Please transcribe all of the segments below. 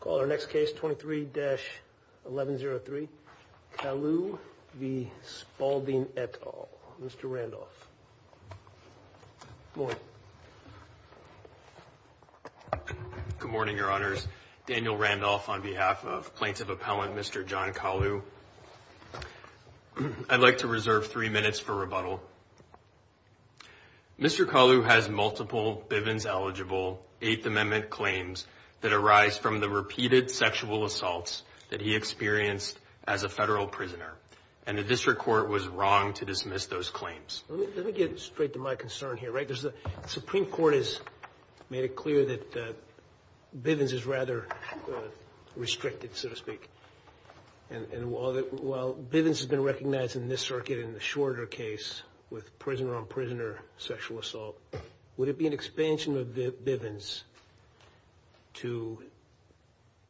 Call our next case 23-1103. Kalu v. Spaulding et al. Mr. Randolph. Good morning, your honors. Daniel Randolph on behalf of plaintiff appellant Mr. John Kalu. I'd like to reserve three minutes for rebuttal. Mr. Kalu has multiple Bivens-eligible Eighth Amendment claims that arise from the repeated sexual assaults that he experienced as a federal prisoner. And the district court was wrong to dismiss those claims. Let me get straight to my concern here, right? There's the Supreme Court has made it clear that Bivens is rather restricted, so to speak. And while Bivens has been recognized in this circuit in the shorter case with prisoner-on-prisoner sexual assault, would it be an expansion of Bivens to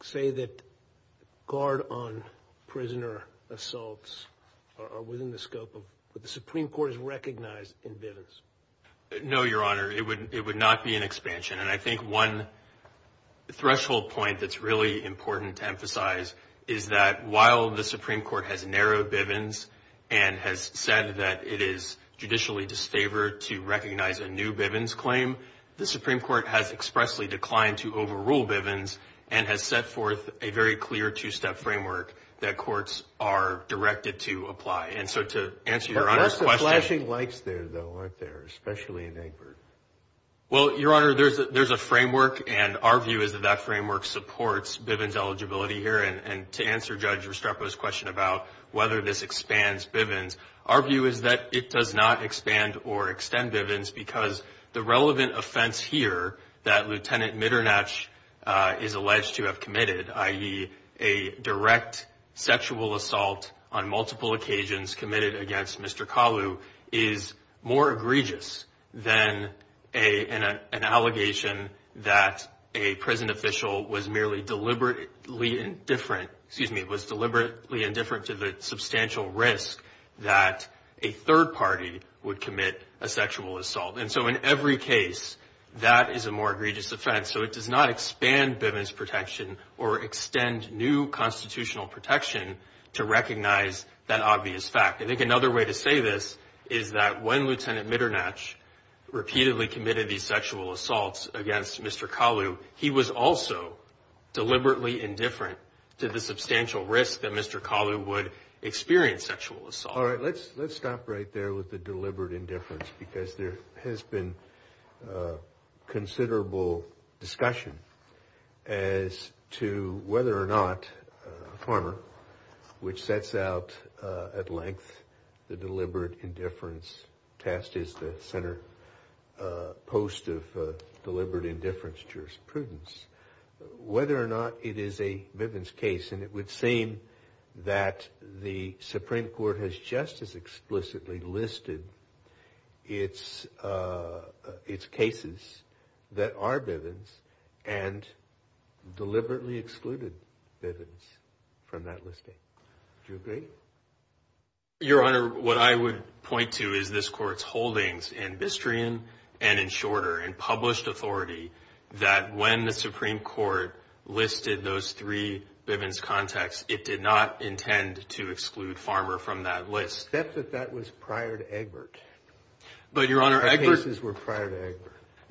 say that guard-on-prisoner assaults are within the scope of what the Supreme Court has recognized in Bivens? No, your honor. It would not be an expansion. And I think one threshold point that's really important to emphasize is that while the Supreme Court has narrowed Bivens and has said that it is judicially disfavored to recognize a new Bivens claim, the Supreme Court has expressly declined to overrule Bivens and has set forth a very clear two-step framework that courts are directed to apply. And so to answer your honor's question... There's some flashing lights there, though, aren't there? Especially in Egbert. Well, your honor, there's a framework, and our view is that that framework supports Bivens eligibility here. And to answer Judge Restrepo's question about whether this expands Bivens, our view is that it does not expand or extend Bivens because the relevant offense here that Lieutenant Mitternach is alleged to have committed, i.e. a direct sexual assault on multiple occasions committed against Mr. Kalu, is more egregious than an allegation that a prison official was merely deliberately indifferent to the substantial risk that a third party would commit a sexual assault. And so in every case, that is a more egregious offense. So it does not expand Bivens protection or extend new constitutional protection to recognize that obvious fact. I think another way to say this is that when Lieutenant Mitternach repeatedly committed these sexual assaults against Mr. Kalu, he was also deliberately indifferent to the substantial risk that Mr. Kalu would experience sexual assault. All right, let's stop right there with the deliberate indifference because there has been considerable discussion as to whether or not Farmer, which sets out at length the deliberate indifference test is the center post of deliberate indifference jurisprudence, whether or not it is a Bivens case. And it would seem that the Supreme Court has just as explicitly listed its cases that are Bivens and deliberately excluded Bivens from that listing. Do you agree? Your Honor, what I would point to is this Court's holdings in Bistreon and in Shorter in published authority that when the Supreme Court listed those three Bivens contacts, it did not intend to exclude Farmer from that list. Except that that was prior to Egbert. But, Your Honor,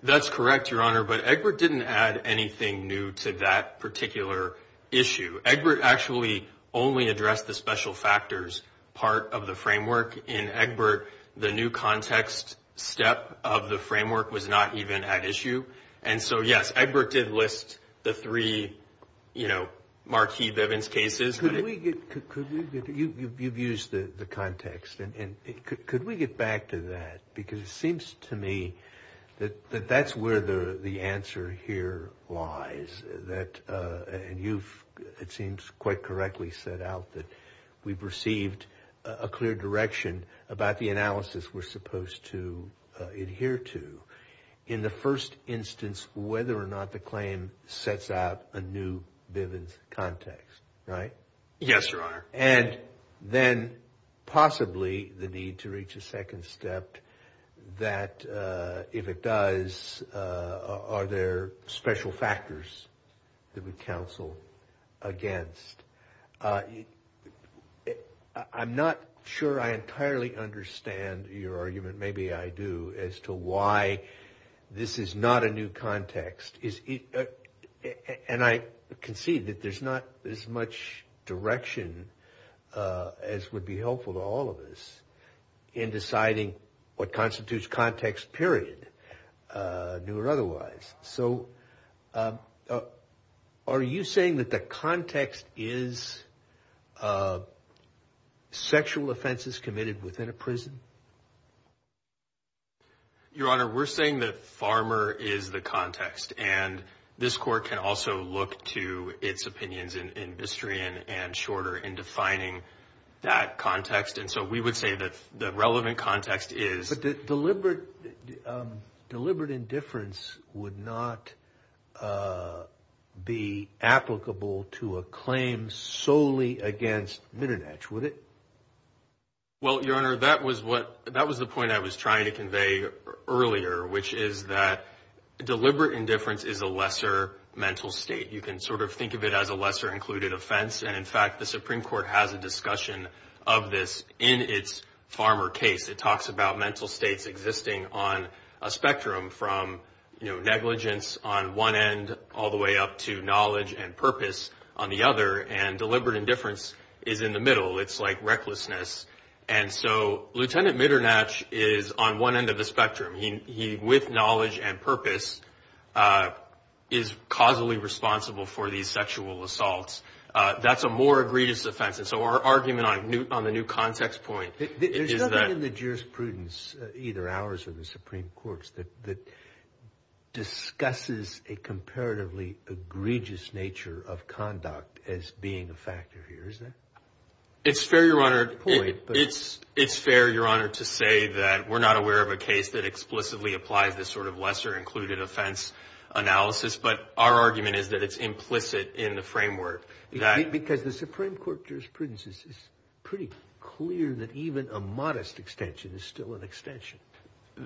that's correct, Your Honor, but Egbert didn't add anything new to that particular issue. Egbert actually only addressed the special factors part of the framework. In Egbert, the new context step of the framework was not even at issue. And so, yes, Egbert did list the three, you know, marquee Bivens cases. Could we get, you've used the context, and could we get back to that? Because it seems to me that that's where the answer here lies, that, and you've, it seems, quite correctly set out that we've received a clear direction about the analysis we're supposed to adhere to. In the first instance, whether or not the claim sets out a new Bivens context, right? Yes, Your Honor. And then possibly the need to reach a second step that if it does, are there special factors that we counsel against? I'm not sure I entirely understand your argument, maybe I do, as to why this is not a new context. And I can see that there's not as much direction as would be helpful to all of us in deciding what constitutes context, period, new or otherwise. So, are you saying that the context is sexual offenses committed within a prison? Your Honor, we're saying that farmer is the context, and this Court can also look to its opinions in Bistrian and Shorter in defining that context. And so, we would say that the relevant context is... But deliberate indifference would not be applicable to a claim solely against Minadetsch, would it? Well, Your Honor, that was the point I was trying to convey earlier, which is that deliberate indifference is a lesser mental state. You can sort of think of it as a lesser included offense. And in fact, the Supreme Court has a discussion of this in its farmer case. It talks about mental states existing on a spectrum from negligence on one end all the way up to knowledge and purpose on the other. And deliberate indifference is in the middle. It's like recklessness. And so, Lieutenant Minadetsch is on one end of the spectrum. He, with knowledge and purpose, is causally responsible for these sexual assaults. That's a more egregious offense. And so, our argument on the new context point is that... There's nothing in the jurisprudence, either ours or the Supreme Court's, that discusses a comparatively egregious nature of conduct as being a factor here, is there? It's fair, Your Honor, to say that we're not aware of a case that explicitly applies this sort of lesser included offense analysis. But our argument is that it's implicit in the framework. Because the Supreme Court jurisprudence is pretty clear that even a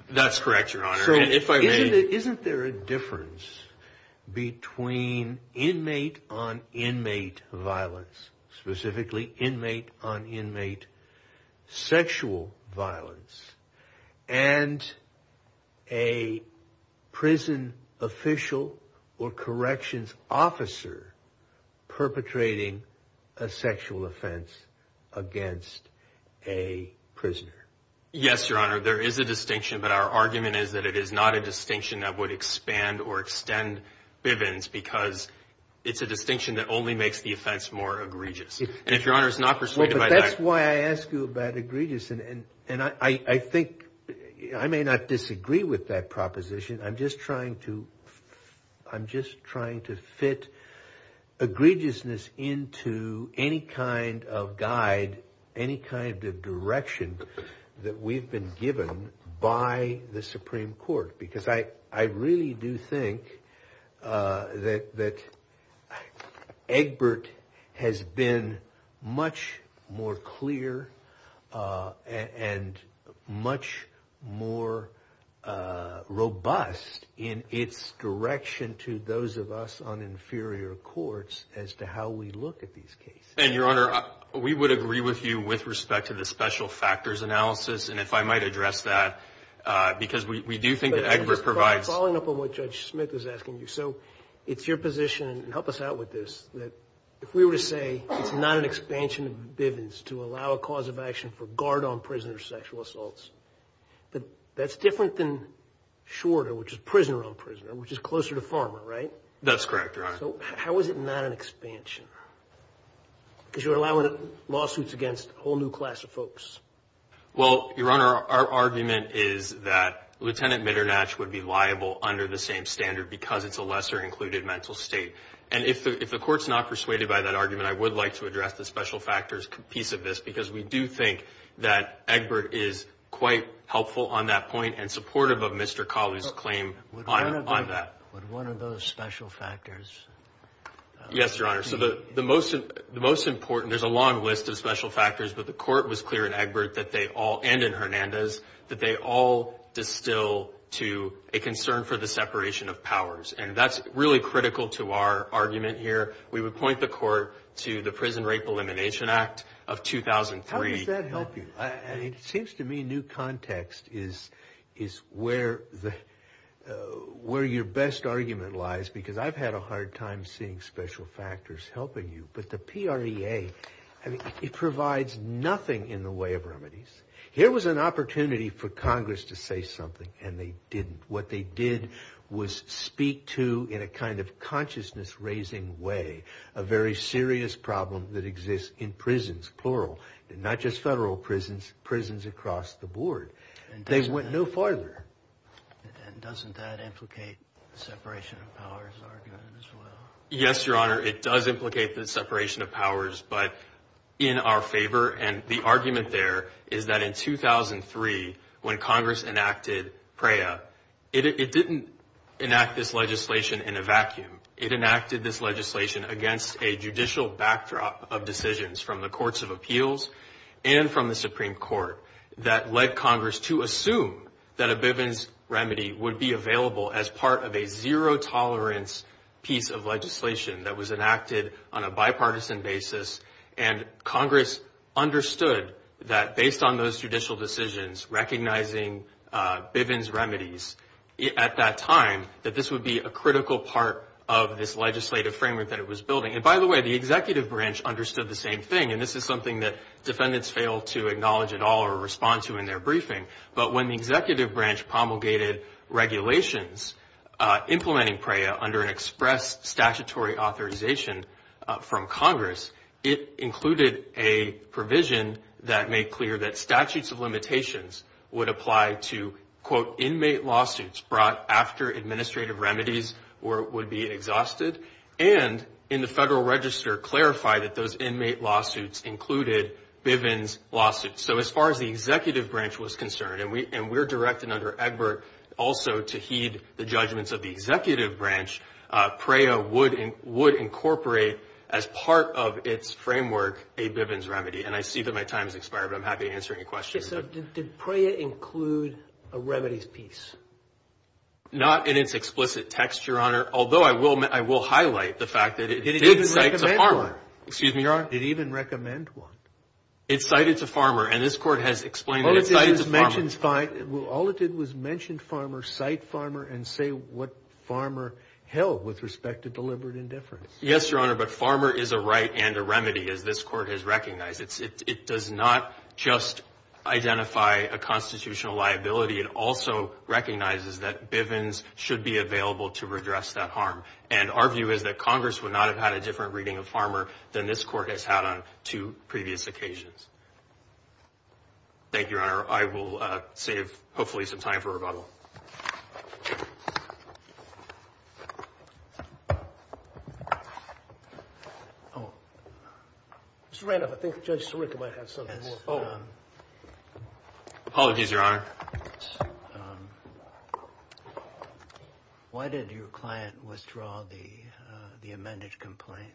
That's correct, Your Honor. So, isn't there a difference between inmate on inmate violence, specifically inmate on inmate sexual violence, and a prison official or corrections officer perpetrating a sexual offense against a prisoner? Yes, Your Honor. There is a distinction, but our argument is that it is not a distinction that would expand or extend Bivens because it's a distinction that only makes the offense more egregious. And if Your Honor is not persuaded by that... Well, but that's why I asked you about egregious. And I think... I may not disagree with that proposition. I'm just trying to fit egregiousness into any kind of guide, any kind of direction that we've been given by the Supreme Court. Because I really do think that Egbert has been much more clear and much more robust in its direction to those of us on inferior courts as to how we look at these cases. And Your Honor, we would agree with you with respect to the special factors analysis. And if I might address that, because we do think that Egbert provides... Following up on what Judge Smith is asking you. So, it's your position, and help us out with this, that if we were to say it's not an expansion of Bivens to allow a cause of action for guard-on prisoner sexual assaults, that that's different than shorter, which is prisoner-on-prisoner, which is closer to farmer, right? That's correct, Your Honor. So, how is it not an expansion? Because you're allowing lawsuits against a whole new class of folks. Well, Your Honor, our argument is that Lieutenant Mitternatch would be liable under the same standard because it's a lesser included mental state. And if the Court's not persuaded by that argument, I would like to address the special factors piece of this, because we do think that Egbert is quite helpful on that point and supportive of Mr. Colley's claim on that. Would one of those special factors... Yes, Your Honor. So, the most important... There's a long list of special factors, but the Court was clear in Egbert that they all, and in Hernandez, that they all distill to a critical to our argument here. We would point the Court to the Prison Rape Elimination Act of 2003. How does that help you? It seems to me new context is where your best argument lies, because I've had a hard time seeing special factors helping you. But the PREA, it provides nothing in the way of remedies. Here was an opportunity for Congress to say something, and they didn't. What they did was speak to, in a kind of consciousness-raising way, a very serious problem that exists in prisons, plural. Not just federal prisons, prisons across the board. They went no farther. And doesn't that implicate the separation of powers argument as well? Yes, Your Honor. It does implicate the separation of powers, but in our favor. And the argument there is that in 2003, when Congress enacted PREA, it didn't enact this legislation in a vacuum. It enacted this legislation against a judicial backdrop of decisions from the Courts of Appeals and from the Supreme Court that led Congress to assume that a Bivens remedy would be available as part of a zero-tolerance piece of legislation that was Congress understood that based on those judicial decisions, recognizing Bivens remedies at that time, that this would be a critical part of this legislative framework that it was building. And by the way, the executive branch understood the same thing. And this is something that defendants fail to acknowledge at all or respond to in their briefing. But when the executive branch promulgated regulations implementing PREA under an express statutory authorization from Congress, it included a provision that made clear that statutes of limitations would apply to inmate lawsuits brought after administrative remedies would be exhausted. And in the Federal Register clarified that those inmate lawsuits included Bivens lawsuits. So as far as the executive branch was concerned, and we're directed under Egbert also to heed the judgments of the as part of its framework, a Bivens remedy. And I see that my time has expired, but I'm happy to answer any questions. Did PREA include a remedies piece? Not in its explicit text, Your Honor. Although I will highlight the fact that it did cite to farmer. Excuse me, Your Honor. Did it even recommend one? It cited to farmer. And this court has explained that it cited to farmer. All it did was mention farmer, cite farmer, and say what farmer held with respect to deliberate indifference. Yes, Your Honor. But farmer is a right and a remedy, as this court has recognized. It does not just identify a constitutional liability. It also recognizes that Bivens should be available to redress that harm. And our view is that Congress would not have had a different reading of farmer than this court has had on two previous occasions. Thank you, Your Honor. I will save hopefully some time for rebuttal. Oh, Mr. Randolph, I think Judge Sirica might have something. Apologies, Your Honor. Why did your client withdraw the amended complaint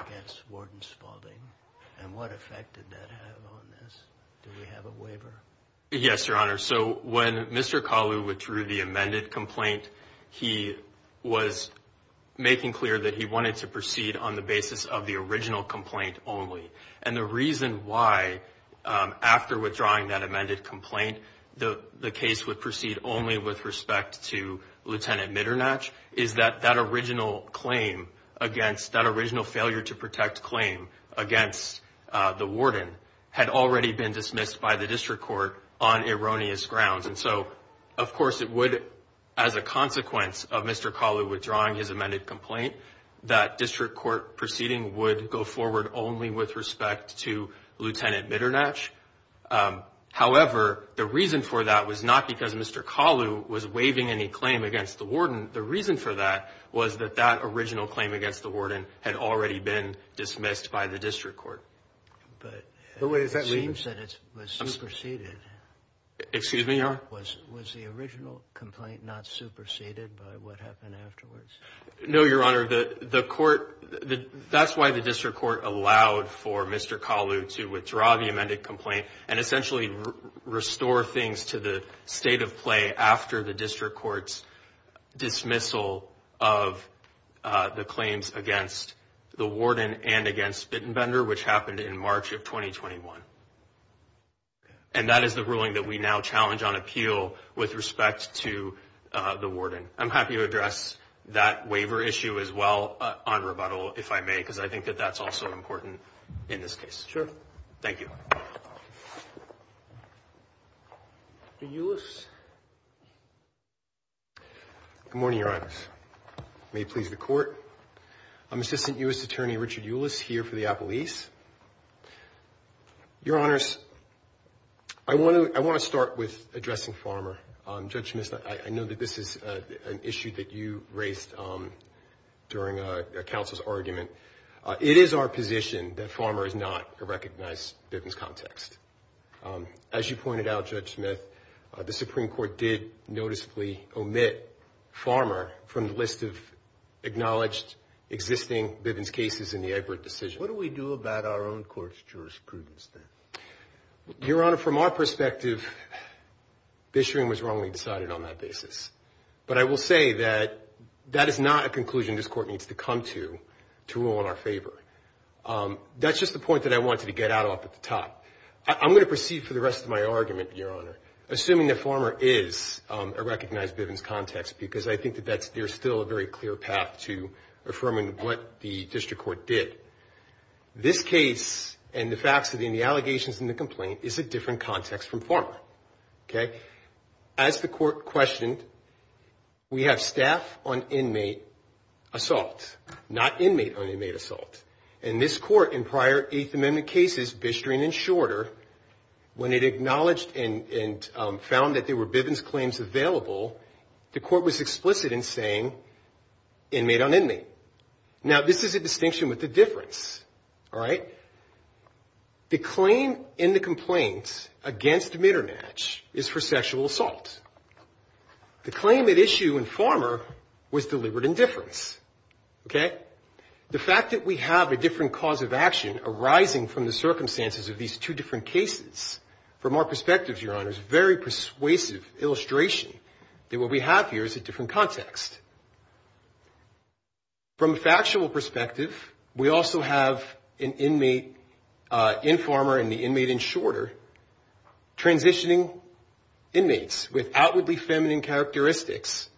against Warden Spaulding? And what effect did that have on this? Do we have a waiver? Yes, Your Honor. So when Mr. Kalu withdrew the amended complaint, he was making clear that he wanted to proceed on the basis of the original complaint only. And the reason why, after withdrawing that amended complaint, the case would proceed only with respect to Lieutenant Mitternatch is that that original claim against that original failure to protect claim against the warden had already been dismissed by the district court on erroneous grounds. And so, of course, it would, as a consequence of Mr. Kalu withdrawing his amended complaint, that district court proceeding would go forward only with respect to Lieutenant Mitternatch. However, the reason for that was not because Mr. Kalu was waiving any claim against the warden. The reason for that was that that original claim against the warden had already been superseded. Was the original complaint not superseded by what happened afterwards? No, Your Honor. That's why the district court allowed for Mr. Kalu to withdraw the amended complaint and essentially restore things to the state of play after the district court's dismissal of the claims against the warden and against Bittenbender, which happened in March of 2021. And that is the ruling that we now challenge on appeal with respect to the warden. I'm happy to address that waiver issue as well on rebuttal, if I may, because I think that that's also important in this case. Sure. Thank you. Mr. Euless. Good morning, Your Honors. May it please the court. I'm Assistant U.S. Attorney Richard Euless here for the Appellees. Your Honors, I want to start with addressing Farmer. Judge Smith, I know that this is an issue that you raised during a counsel's argument. It is our position that Farmer is not a recognized Bivens context. As you pointed out, Judge Smith, the Supreme Court did noticeably omit Farmer from the list of acknowledged existing Bivens cases in the decision. What do we do about our own court's jurisprudence then? Your Honor, from our perspective, this hearing was wrongly decided on that basis. But I will say that that is not a conclusion this court needs to come to to rule in our favor. That's just the point that I wanted to get out off at the top. I'm going to proceed for the rest of my argument, Your Honor, assuming that Farmer is a recognized Bivens context, because I think that there's still a very clear path to this case and the facts and the allegations in the complaint is a different context from Farmer. As the court questioned, we have staff on inmate assault, not inmate on inmate assault. In this court, in prior Eighth Amendment cases, Bistring and Shorter, when it acknowledged and found that there were Bivens claims available, the court was explicit in saying inmate on inmate. Now, this is a distinction with the difference, all right? The claim in the complaint against Mitternatch is for sexual assault. The claim at issue in Farmer was deliberate indifference, okay? The fact that we have a different cause of action arising from the circumstances of these two different cases, from our perspectives, Your Honor, is a very persuasive illustration that what we have here is a different context. From a factual perspective, we also have an inmate in Farmer and the inmate in Shorter transitioning inmates with outwardly feminine characteristics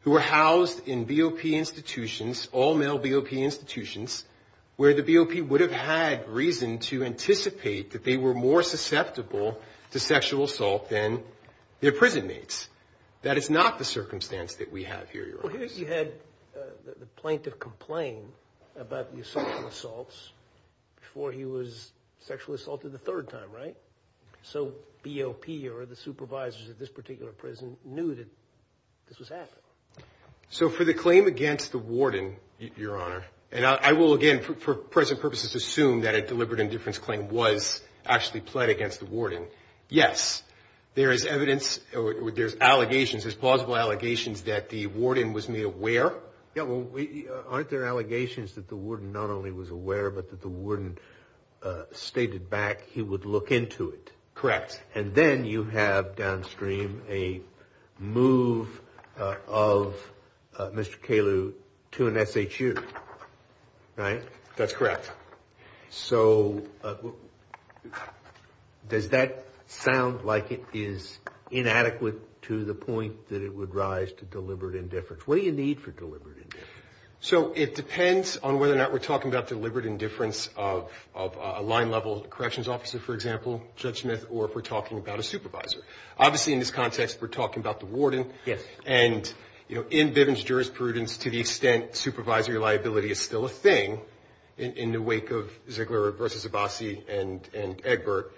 who were housed in BOP institutions, all-male BOP institutions, where the BOP would have had reason to anticipate that they were more susceptible to sexual assault than their prison mates. That is not the circumstance that we have here, Your Honor. Well, here you had the plaintiff complain about the assaults before he was sexually assaulted the third time, right? So BOP or the supervisors of this particular prison knew that this was happening. So for the claim against the warden, Your Honor, and I will again, for present purposes, assume that a deliberate indifference claim was actually pled against the warden. Yes, there is evidence or there's allegations, there's plausible allegations that the warden was made aware. Yeah, well, aren't there allegations that the warden not only was aware, but that the warden stated back he would look into it? Correct. And then you have downstream a move of Mr. Caylew to an SHU, right? That's correct. So does that sound like it is inadequate to the point that it would rise to deliberate indifference? What do you need for deliberate indifference? So it depends on whether or not we're talking about deliberate indifference of a line-level corrections officer, for example, Judge Smith, or if we're talking about a supervisor. Obviously, in this context, we're talking about the warden. Yes. And in Bivens jurisprudence, to the extent supervisory liability is still a thing in the wake of Ziegler versus Abbasi and Egbert,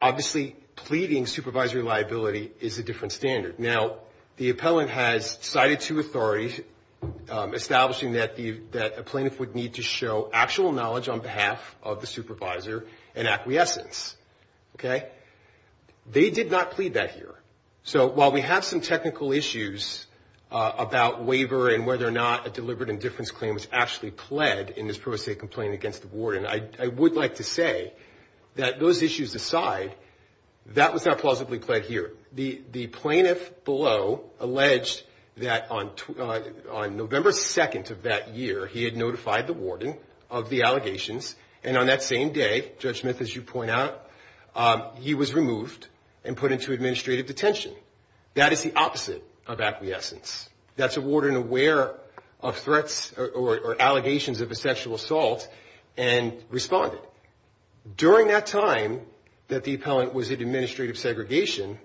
obviously pleading supervisory liability is a different standard. Now, the appellant has cited two authorities establishing that a plaintiff would need to show actual knowledge on behalf of the supervisor and acquiescence, okay? They did not plead that here. So while we have some technical issues about waiver and whether or not a deliberate indifference claim was actually pled in this pro se complaint against the warden, I would like to say that those issues aside, that was not plausibly pled here. The plaintiff below alleged that on November 2nd of that year, he had notified the warden of the allegations, and on that same day, Judge Smith, as you point out, he was removed and put into administrative detention. That is the opposite of acquiescence. That's a warden aware of threats or allegations of a sexual assault and responded. During that time that the appellant was in administrative segregation,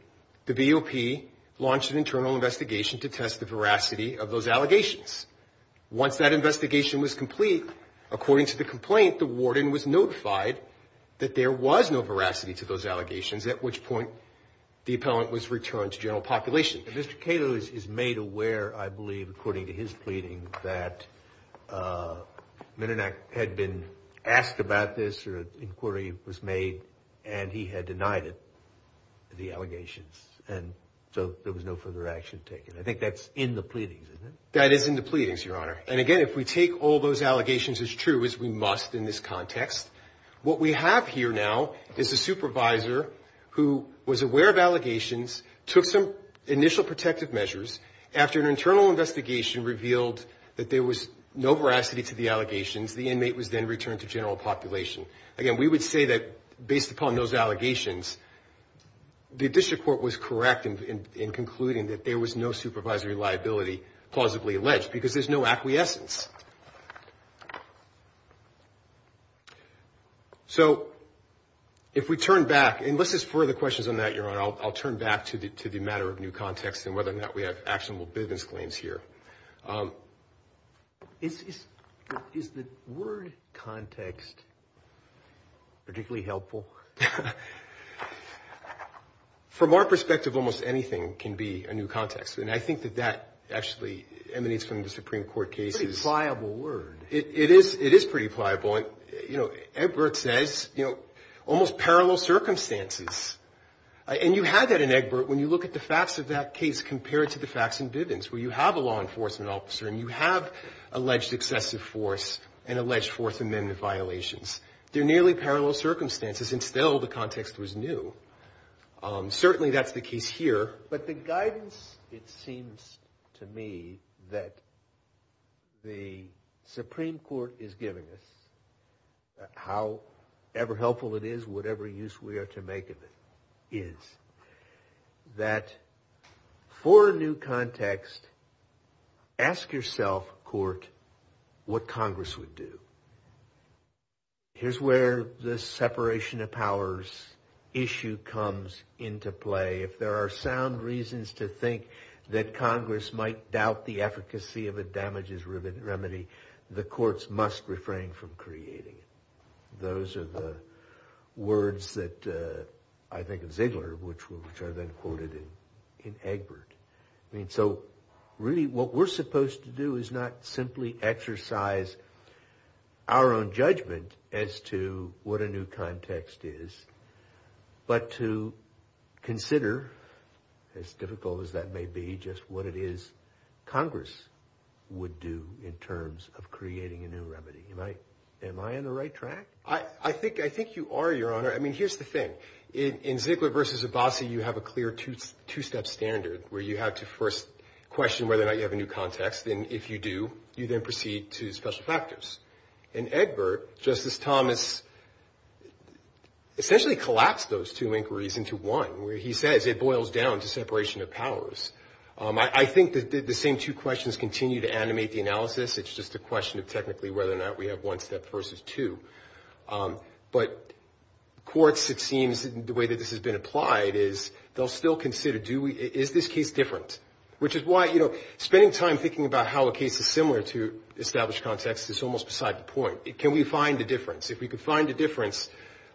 the BOP launched an internal investigation to test the veracity of those allegations. Once that investigation was complete, according to the complaint, the warden was notified that there was no veracity to those allegations, at which point the appellant was returned to general population. Mr. Cato is made aware, I believe, according to his pleading, that Mnuchin had been asked about this or an denied it, the allegations, and so there was no further action taken. I think that's in the pleadings, isn't it? That is in the pleadings, Your Honor. And again, if we take all those allegations as true, as we must in this context, what we have here now is a supervisor who was aware of allegations, took some initial protective measures, after an internal investigation revealed that there was no veracity to the allegations, the inmate was then returned to general population. Again, we have all those allegations. The district court was correct in concluding that there was no supervisory liability plausibly alleged because there's no acquiescence. So, if we turn back, unless there's further questions on that, Your Honor, I'll turn back to the matter of new context and whether or not we have actionable business claims here. Is the word context particularly helpful? From our perspective, almost anything can be a new context, and I think that that actually emanates from the Supreme Court cases. It's a pretty pliable word. It is. It is pretty pliable. And, you know, Egbert says, you know, almost parallel circumstances. And you had that in Egbert when you look at the facts of that case compared to the facts in Bivens where you have a law enforcement officer and you have alleged excessive force and alleged Fourth Amendment violations. They're nearly parallel circumstances and still the context was new. Certainly, that's the case here. But the guidance, it seems to me, that the Supreme Court is giving us, however helpful it is, whatever use we are to make of it, is that for a new context, ask yourself, court, what Congress would do. Here's where the separation of powers issue comes into play. If there are sound reasons to think that Congress might doubt the efficacy of a damages remedy, the courts must refrain from creating it. Those are the words that I think of Ziegler, which are then quoted in Egbert. I mean, so really what we're supposed to do is not simply exercise our own judgment as to what a new context is, but to consider, as difficult as that may be, just what it is Congress would do in terms of creating a new remedy. Am I on the right track? I think you are, Your Honor. I mean, here's the thing. In Ziegler v. Abbasi, you have a clear two-step standard where you have to first question whether or not you have a new context. Then if you do, you then proceed to special factors. In Egbert, Justice Thomas essentially collapsed those two inquiries into one where he says it I think the same two questions continue to animate the analysis. It's just a question of technically whether or not we have one step versus two. But courts, it seems, the way that this has been applied is they'll still consider, do we, is this case different? Which is why, you know, spending time thinking about how a case is similar to established context is almost beside the point. Can we find a difference? If we could find a difference,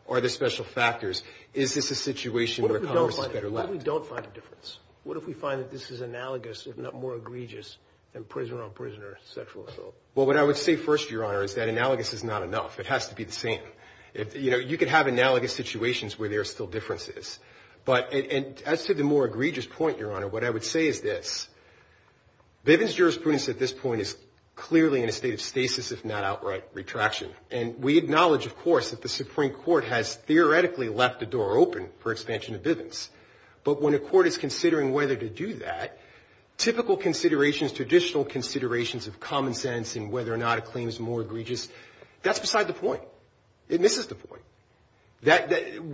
are there special factors? Is this a situation where Congress is better left? What if we don't find a difference? What if we find that this is analogous, if not more egregious, than prisoner-on-prisoner sexual assault? Well, what I would say first, Your Honor, is that analogous is not enough. It has to be the same. You know, you could have analogous situations where there are still differences. But as to the more egregious point, Your Honor, what I would say is this. Bivens jurisprudence at this point is clearly in a state of stasis, if not outright retraction. And we acknowledge, of course, that the Supreme Court has theoretically left the door open for expansion of Bivens. But when a court is considering whether to do that, typical considerations, traditional considerations of common sense and whether or not a claim is more egregious, that's beside the point. It misses the point.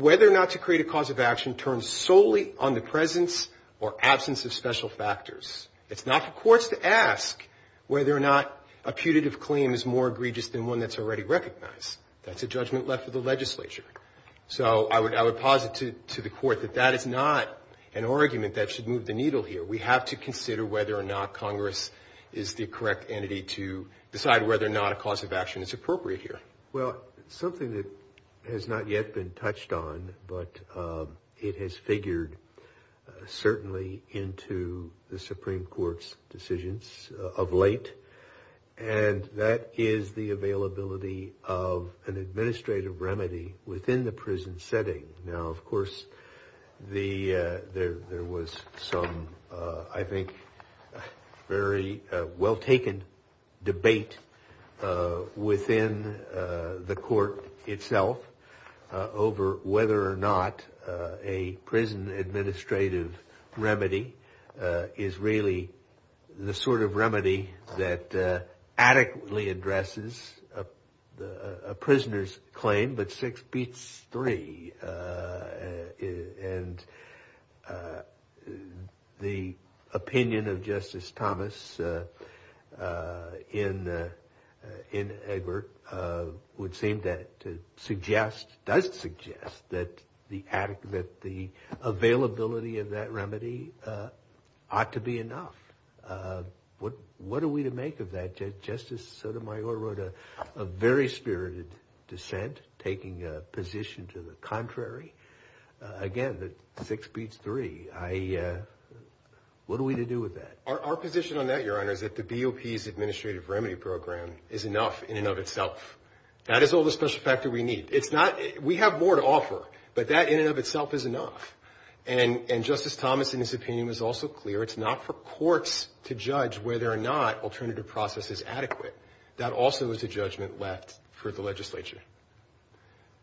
Whether or not to create a cause of action turns solely on the presence or absence of special factors. It's not for courts to ask whether or not a putative claim is more egregious than one that's already recognized. That's a judgment left for the legislature. So I would posit to the court that that is not an argument that should move the needle here. We have to consider whether or not Congress is the correct entity to decide whether or not a cause of action is appropriate here. Well, something that has not yet been touched on, but it has figured certainly into the Supreme Court's decisions of late, and that is the availability of an administrative remedy within the prison setting. Now, of course, there was some, I think, very well-taken debate within the court itself over whether or not a prison administrative remedy is really the sort of remedy that adequately addresses a prisoner's claim, but six beats three. And the opinion of Justice Thomas in Egbert would seem to suggest, does suggest, that the availability of that remedy ought to be enough. What are we to make of that? Justice Sotomayor wrote a very spirited dissent taking a position to the contrary. Again, six beats three. What are we to do with that? Our position on that, Your Honor, is that the BOP's administrative remedy program is enough in and of itself. That is all the special factor we need. It's not, we have more to offer, but that in and of itself is enough. And Justice Thomas, in his opinion, was also clear it's not for courts to judge whether or not alternative process is adequate. That also is a judgment left for the legislature.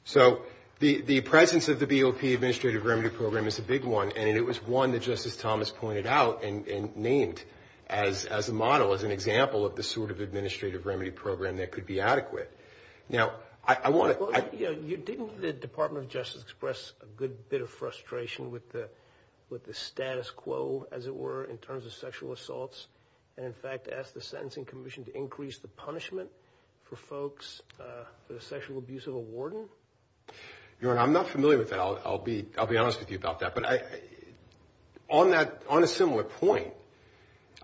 So the presence of the BOP administrative remedy program is a big one, and it was one that Justice Thomas pointed out and named as a model, as an example of the sort of administrative remedy program that could be adequate. Now, I want to... Well, you know, didn't the Department of Justice express a good bit of frustration with the status quo, as it were, in terms of sexual assaults? And in fact, asked the Sentencing Commission to increase the punishment for folks, for the sexual abuse of a warden? Your Honor, I'm not familiar with that. I'll be honest with you about that. But on a similar point,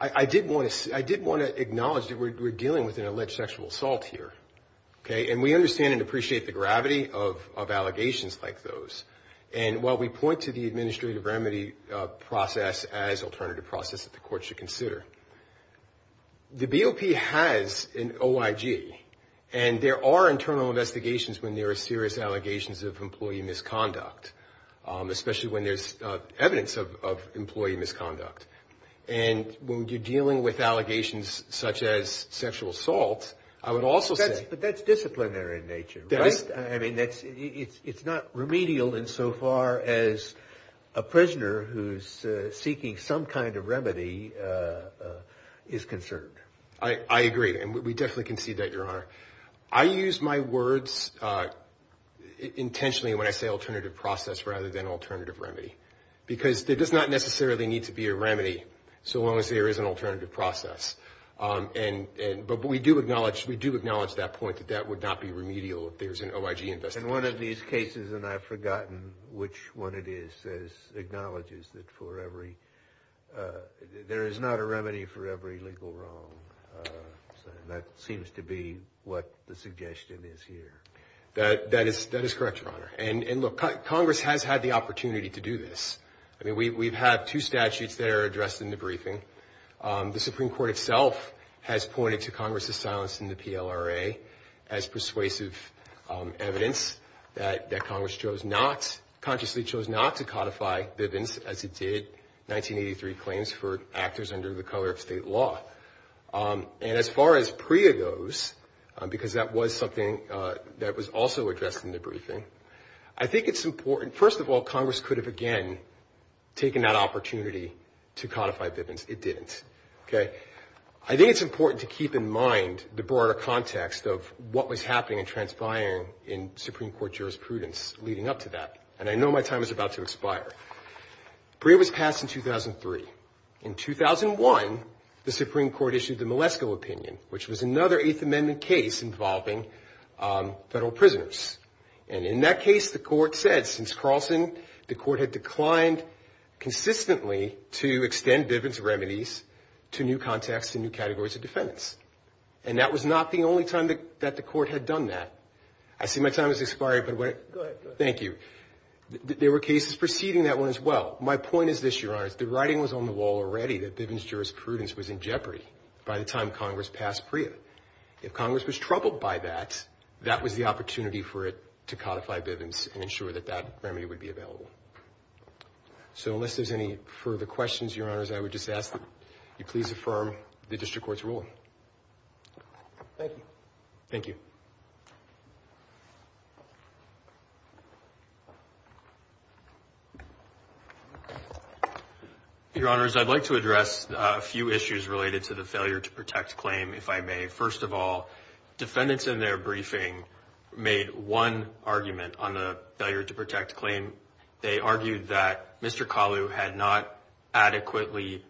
I did want to acknowledge that we're dealing with an alleged sexual assault here, okay? And we understand and appreciate the gravity of allegations like those. And I think that's something that courts should consider. The BOP has an OIG, and there are internal investigations when there are serious allegations of employee misconduct, especially when there's evidence of employee misconduct. And when you're dealing with allegations such as sexual assault, I would also say... But that's disciplinary in nature, right? I mean, it's not remedial insofar as a prisoner who's seeking some kind of remedy is concerned. I agree, and we definitely concede that, Your Honor. I use my words intentionally when I say alternative process rather than alternative remedy. Because there does not necessarily need to be a remedy, so long as there is an alternative process. But we do acknowledge that point, that that would not be remedial if there's an OIG investigation. And one of these cases, and I've forgotten which one it is, acknowledges that for every... There is not a remedy for every legal wrong. That seems to be what the suggestion is here. That is correct, Your Honor. And look, Congress has had the opportunity to do this. I mean, we've had two statutes that are addressed in the briefing. The Supreme Court itself has pointed to Congress's silence in the PLRA as persuasive evidence that Congress consciously chose not to codify Bivens as it did 1983 claims for actors under the color of state law. And as far as PREA goes, because that was something that was also addressed in the briefing, I think it's important... First of all, Congress could have, again, taken that opportunity to codify Bivens. It didn't, okay? I think it's important to keep in mind the broader context of what was happening and Supreme Court jurisprudence leading up to that. And I know my time is about to expire. PREA was passed in 2003. In 2001, the Supreme Court issued the Malesko opinion, which was another Eighth Amendment case involving federal prisoners. And in that case, the court said, since Carlson, the court had declined consistently to extend Bivens remedies to new contexts and new categories of defendants. And that was not the only time that the court had done that. I see my time has expired, but what... Go ahead, go ahead. Thank you. There were cases preceding that one as well. My point is this, Your Honors, the writing was on the wall already that Bivens jurisprudence was in jeopardy by the time Congress passed PREA. If Congress was troubled by that, that was the opportunity for it to codify Bivens and ensure that that remedy would be available. So unless there's any further questions, Your Honors, I would just ask that you please affirm the district court's ruling. Thank you. Thank you. Thank you. Your Honors, I'd like to address a few issues related to the failure to protect claim, if I may. First of all, defendants in their briefing made one argument on the failure to protect claim. They argued that Mr. Kalu had not adequately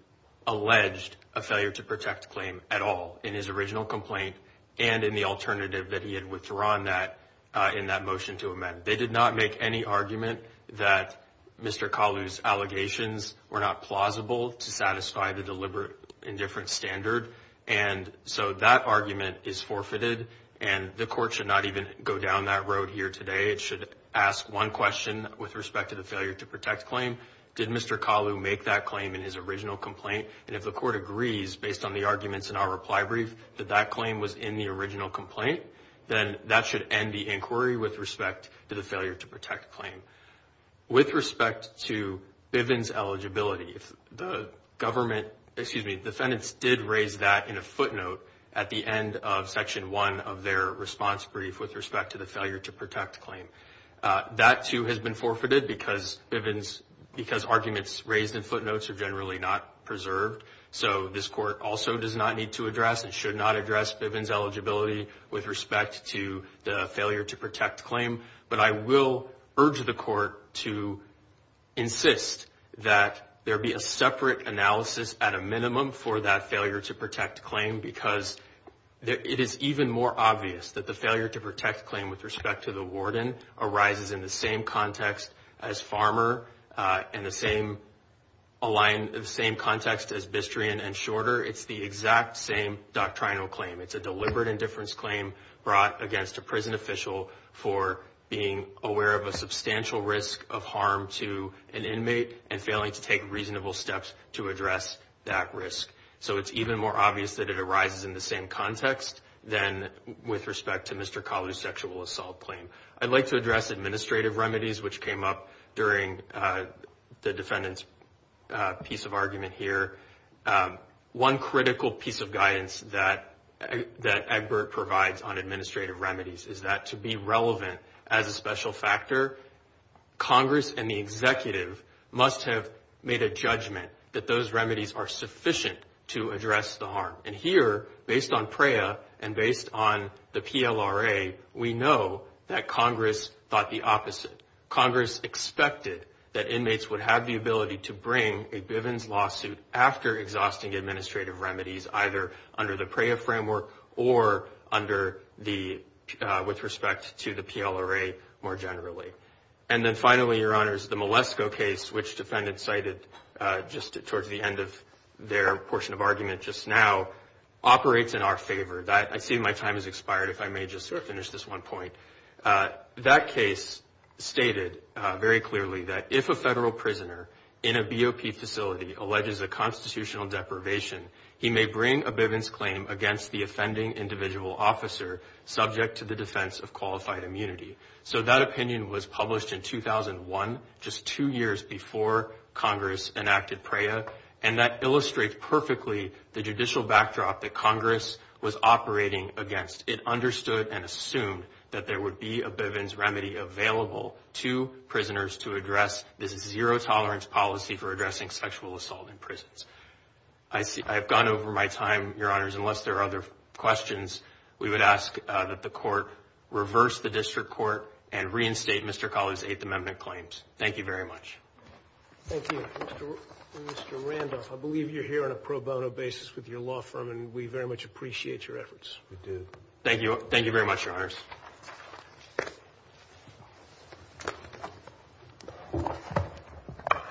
alleged a failure to protect claim at all in his original complaint and in the alternative that he had withdrawn that in that motion to amend. They did not make any argument that Mr. Kalu's allegations were not plausible to satisfy the deliberate indifference standard, and so that argument is forfeited and the court should not even go down that road here today. It should ask one question with respect to the failure to protect claim. Did Mr. Kalu make that claim in his original complaint? And if the court agrees, based on the arguments in our reply brief, that that claim was in the original complaint, then that should end the inquiry with respect to the failure to protect claim. With respect to Bivens' eligibility, the government, excuse me, defendants did raise that in a footnote at the end of Section 1 of their response brief with respect to the failure to protect claim. That too has been forfeited because Bivens, because arguments raised in footnotes are So this court also does not need to address and should not address Bivens' eligibility with respect to the failure to protect claim, but I will urge the court to insist that there be a separate analysis at a minimum for that failure to protect claim because it is even more obvious that the failure to protect claim with respect to the warden arises in the same context as Bistrian and Shorter. It's the exact same doctrinal claim. It's a deliberate indifference claim brought against a prison official for being aware of a substantial risk of harm to an inmate and failing to take reasonable steps to address that risk. So it's even more obvious that it arises in the same context than with respect to Mr. Kalu's sexual assault claim. I'd like to address administrative remedies, which came up during the defendant's piece of argument here. One critical piece of guidance that Egbert provides on administrative remedies is that to be relevant as a special factor, Congress and the executive must have made a judgment that those remedies are sufficient to address the harm. And here, based on PREA and based on the PLRA, we know that Congress thought the opposite. Congress expected that inmates would have the ability to bring a Bivens lawsuit after exhausting administrative remedies, either under the PREA framework or with respect to the PLRA more generally. And then finally, Your Honors, the Malesko case, which defendants cited just towards the end of their portion of argument just now, operates in our favor. I see my time has expired if I may just sort of finish this one point. That case stated very clearly that if a federal prisoner in a BOP facility alleges a constitutional deprivation, he may bring a Bivens claim against the offending individual officer subject to the defense of qualified immunity. So that opinion was published in 2001, just two years before Congress enacted PREA, and that illustrates perfectly the judicial backdrop that Congress was operating against. It understood and assumed that there would be a Bivens remedy available to prisoners to address this zero-tolerance policy for addressing sexual assault in prisons. I have gone over my time, Your Honors. Unless there are other questions, we would ask that the Court reverse the District Court and reinstate Mr. Collie's Eighth Amendment claims. Thank you very much. Thank you. Mr. Randolph, I believe you're here on a pro bono basis with your law firm, and we very much appreciate your efforts. Thank you. Thank you very much, Your Honors.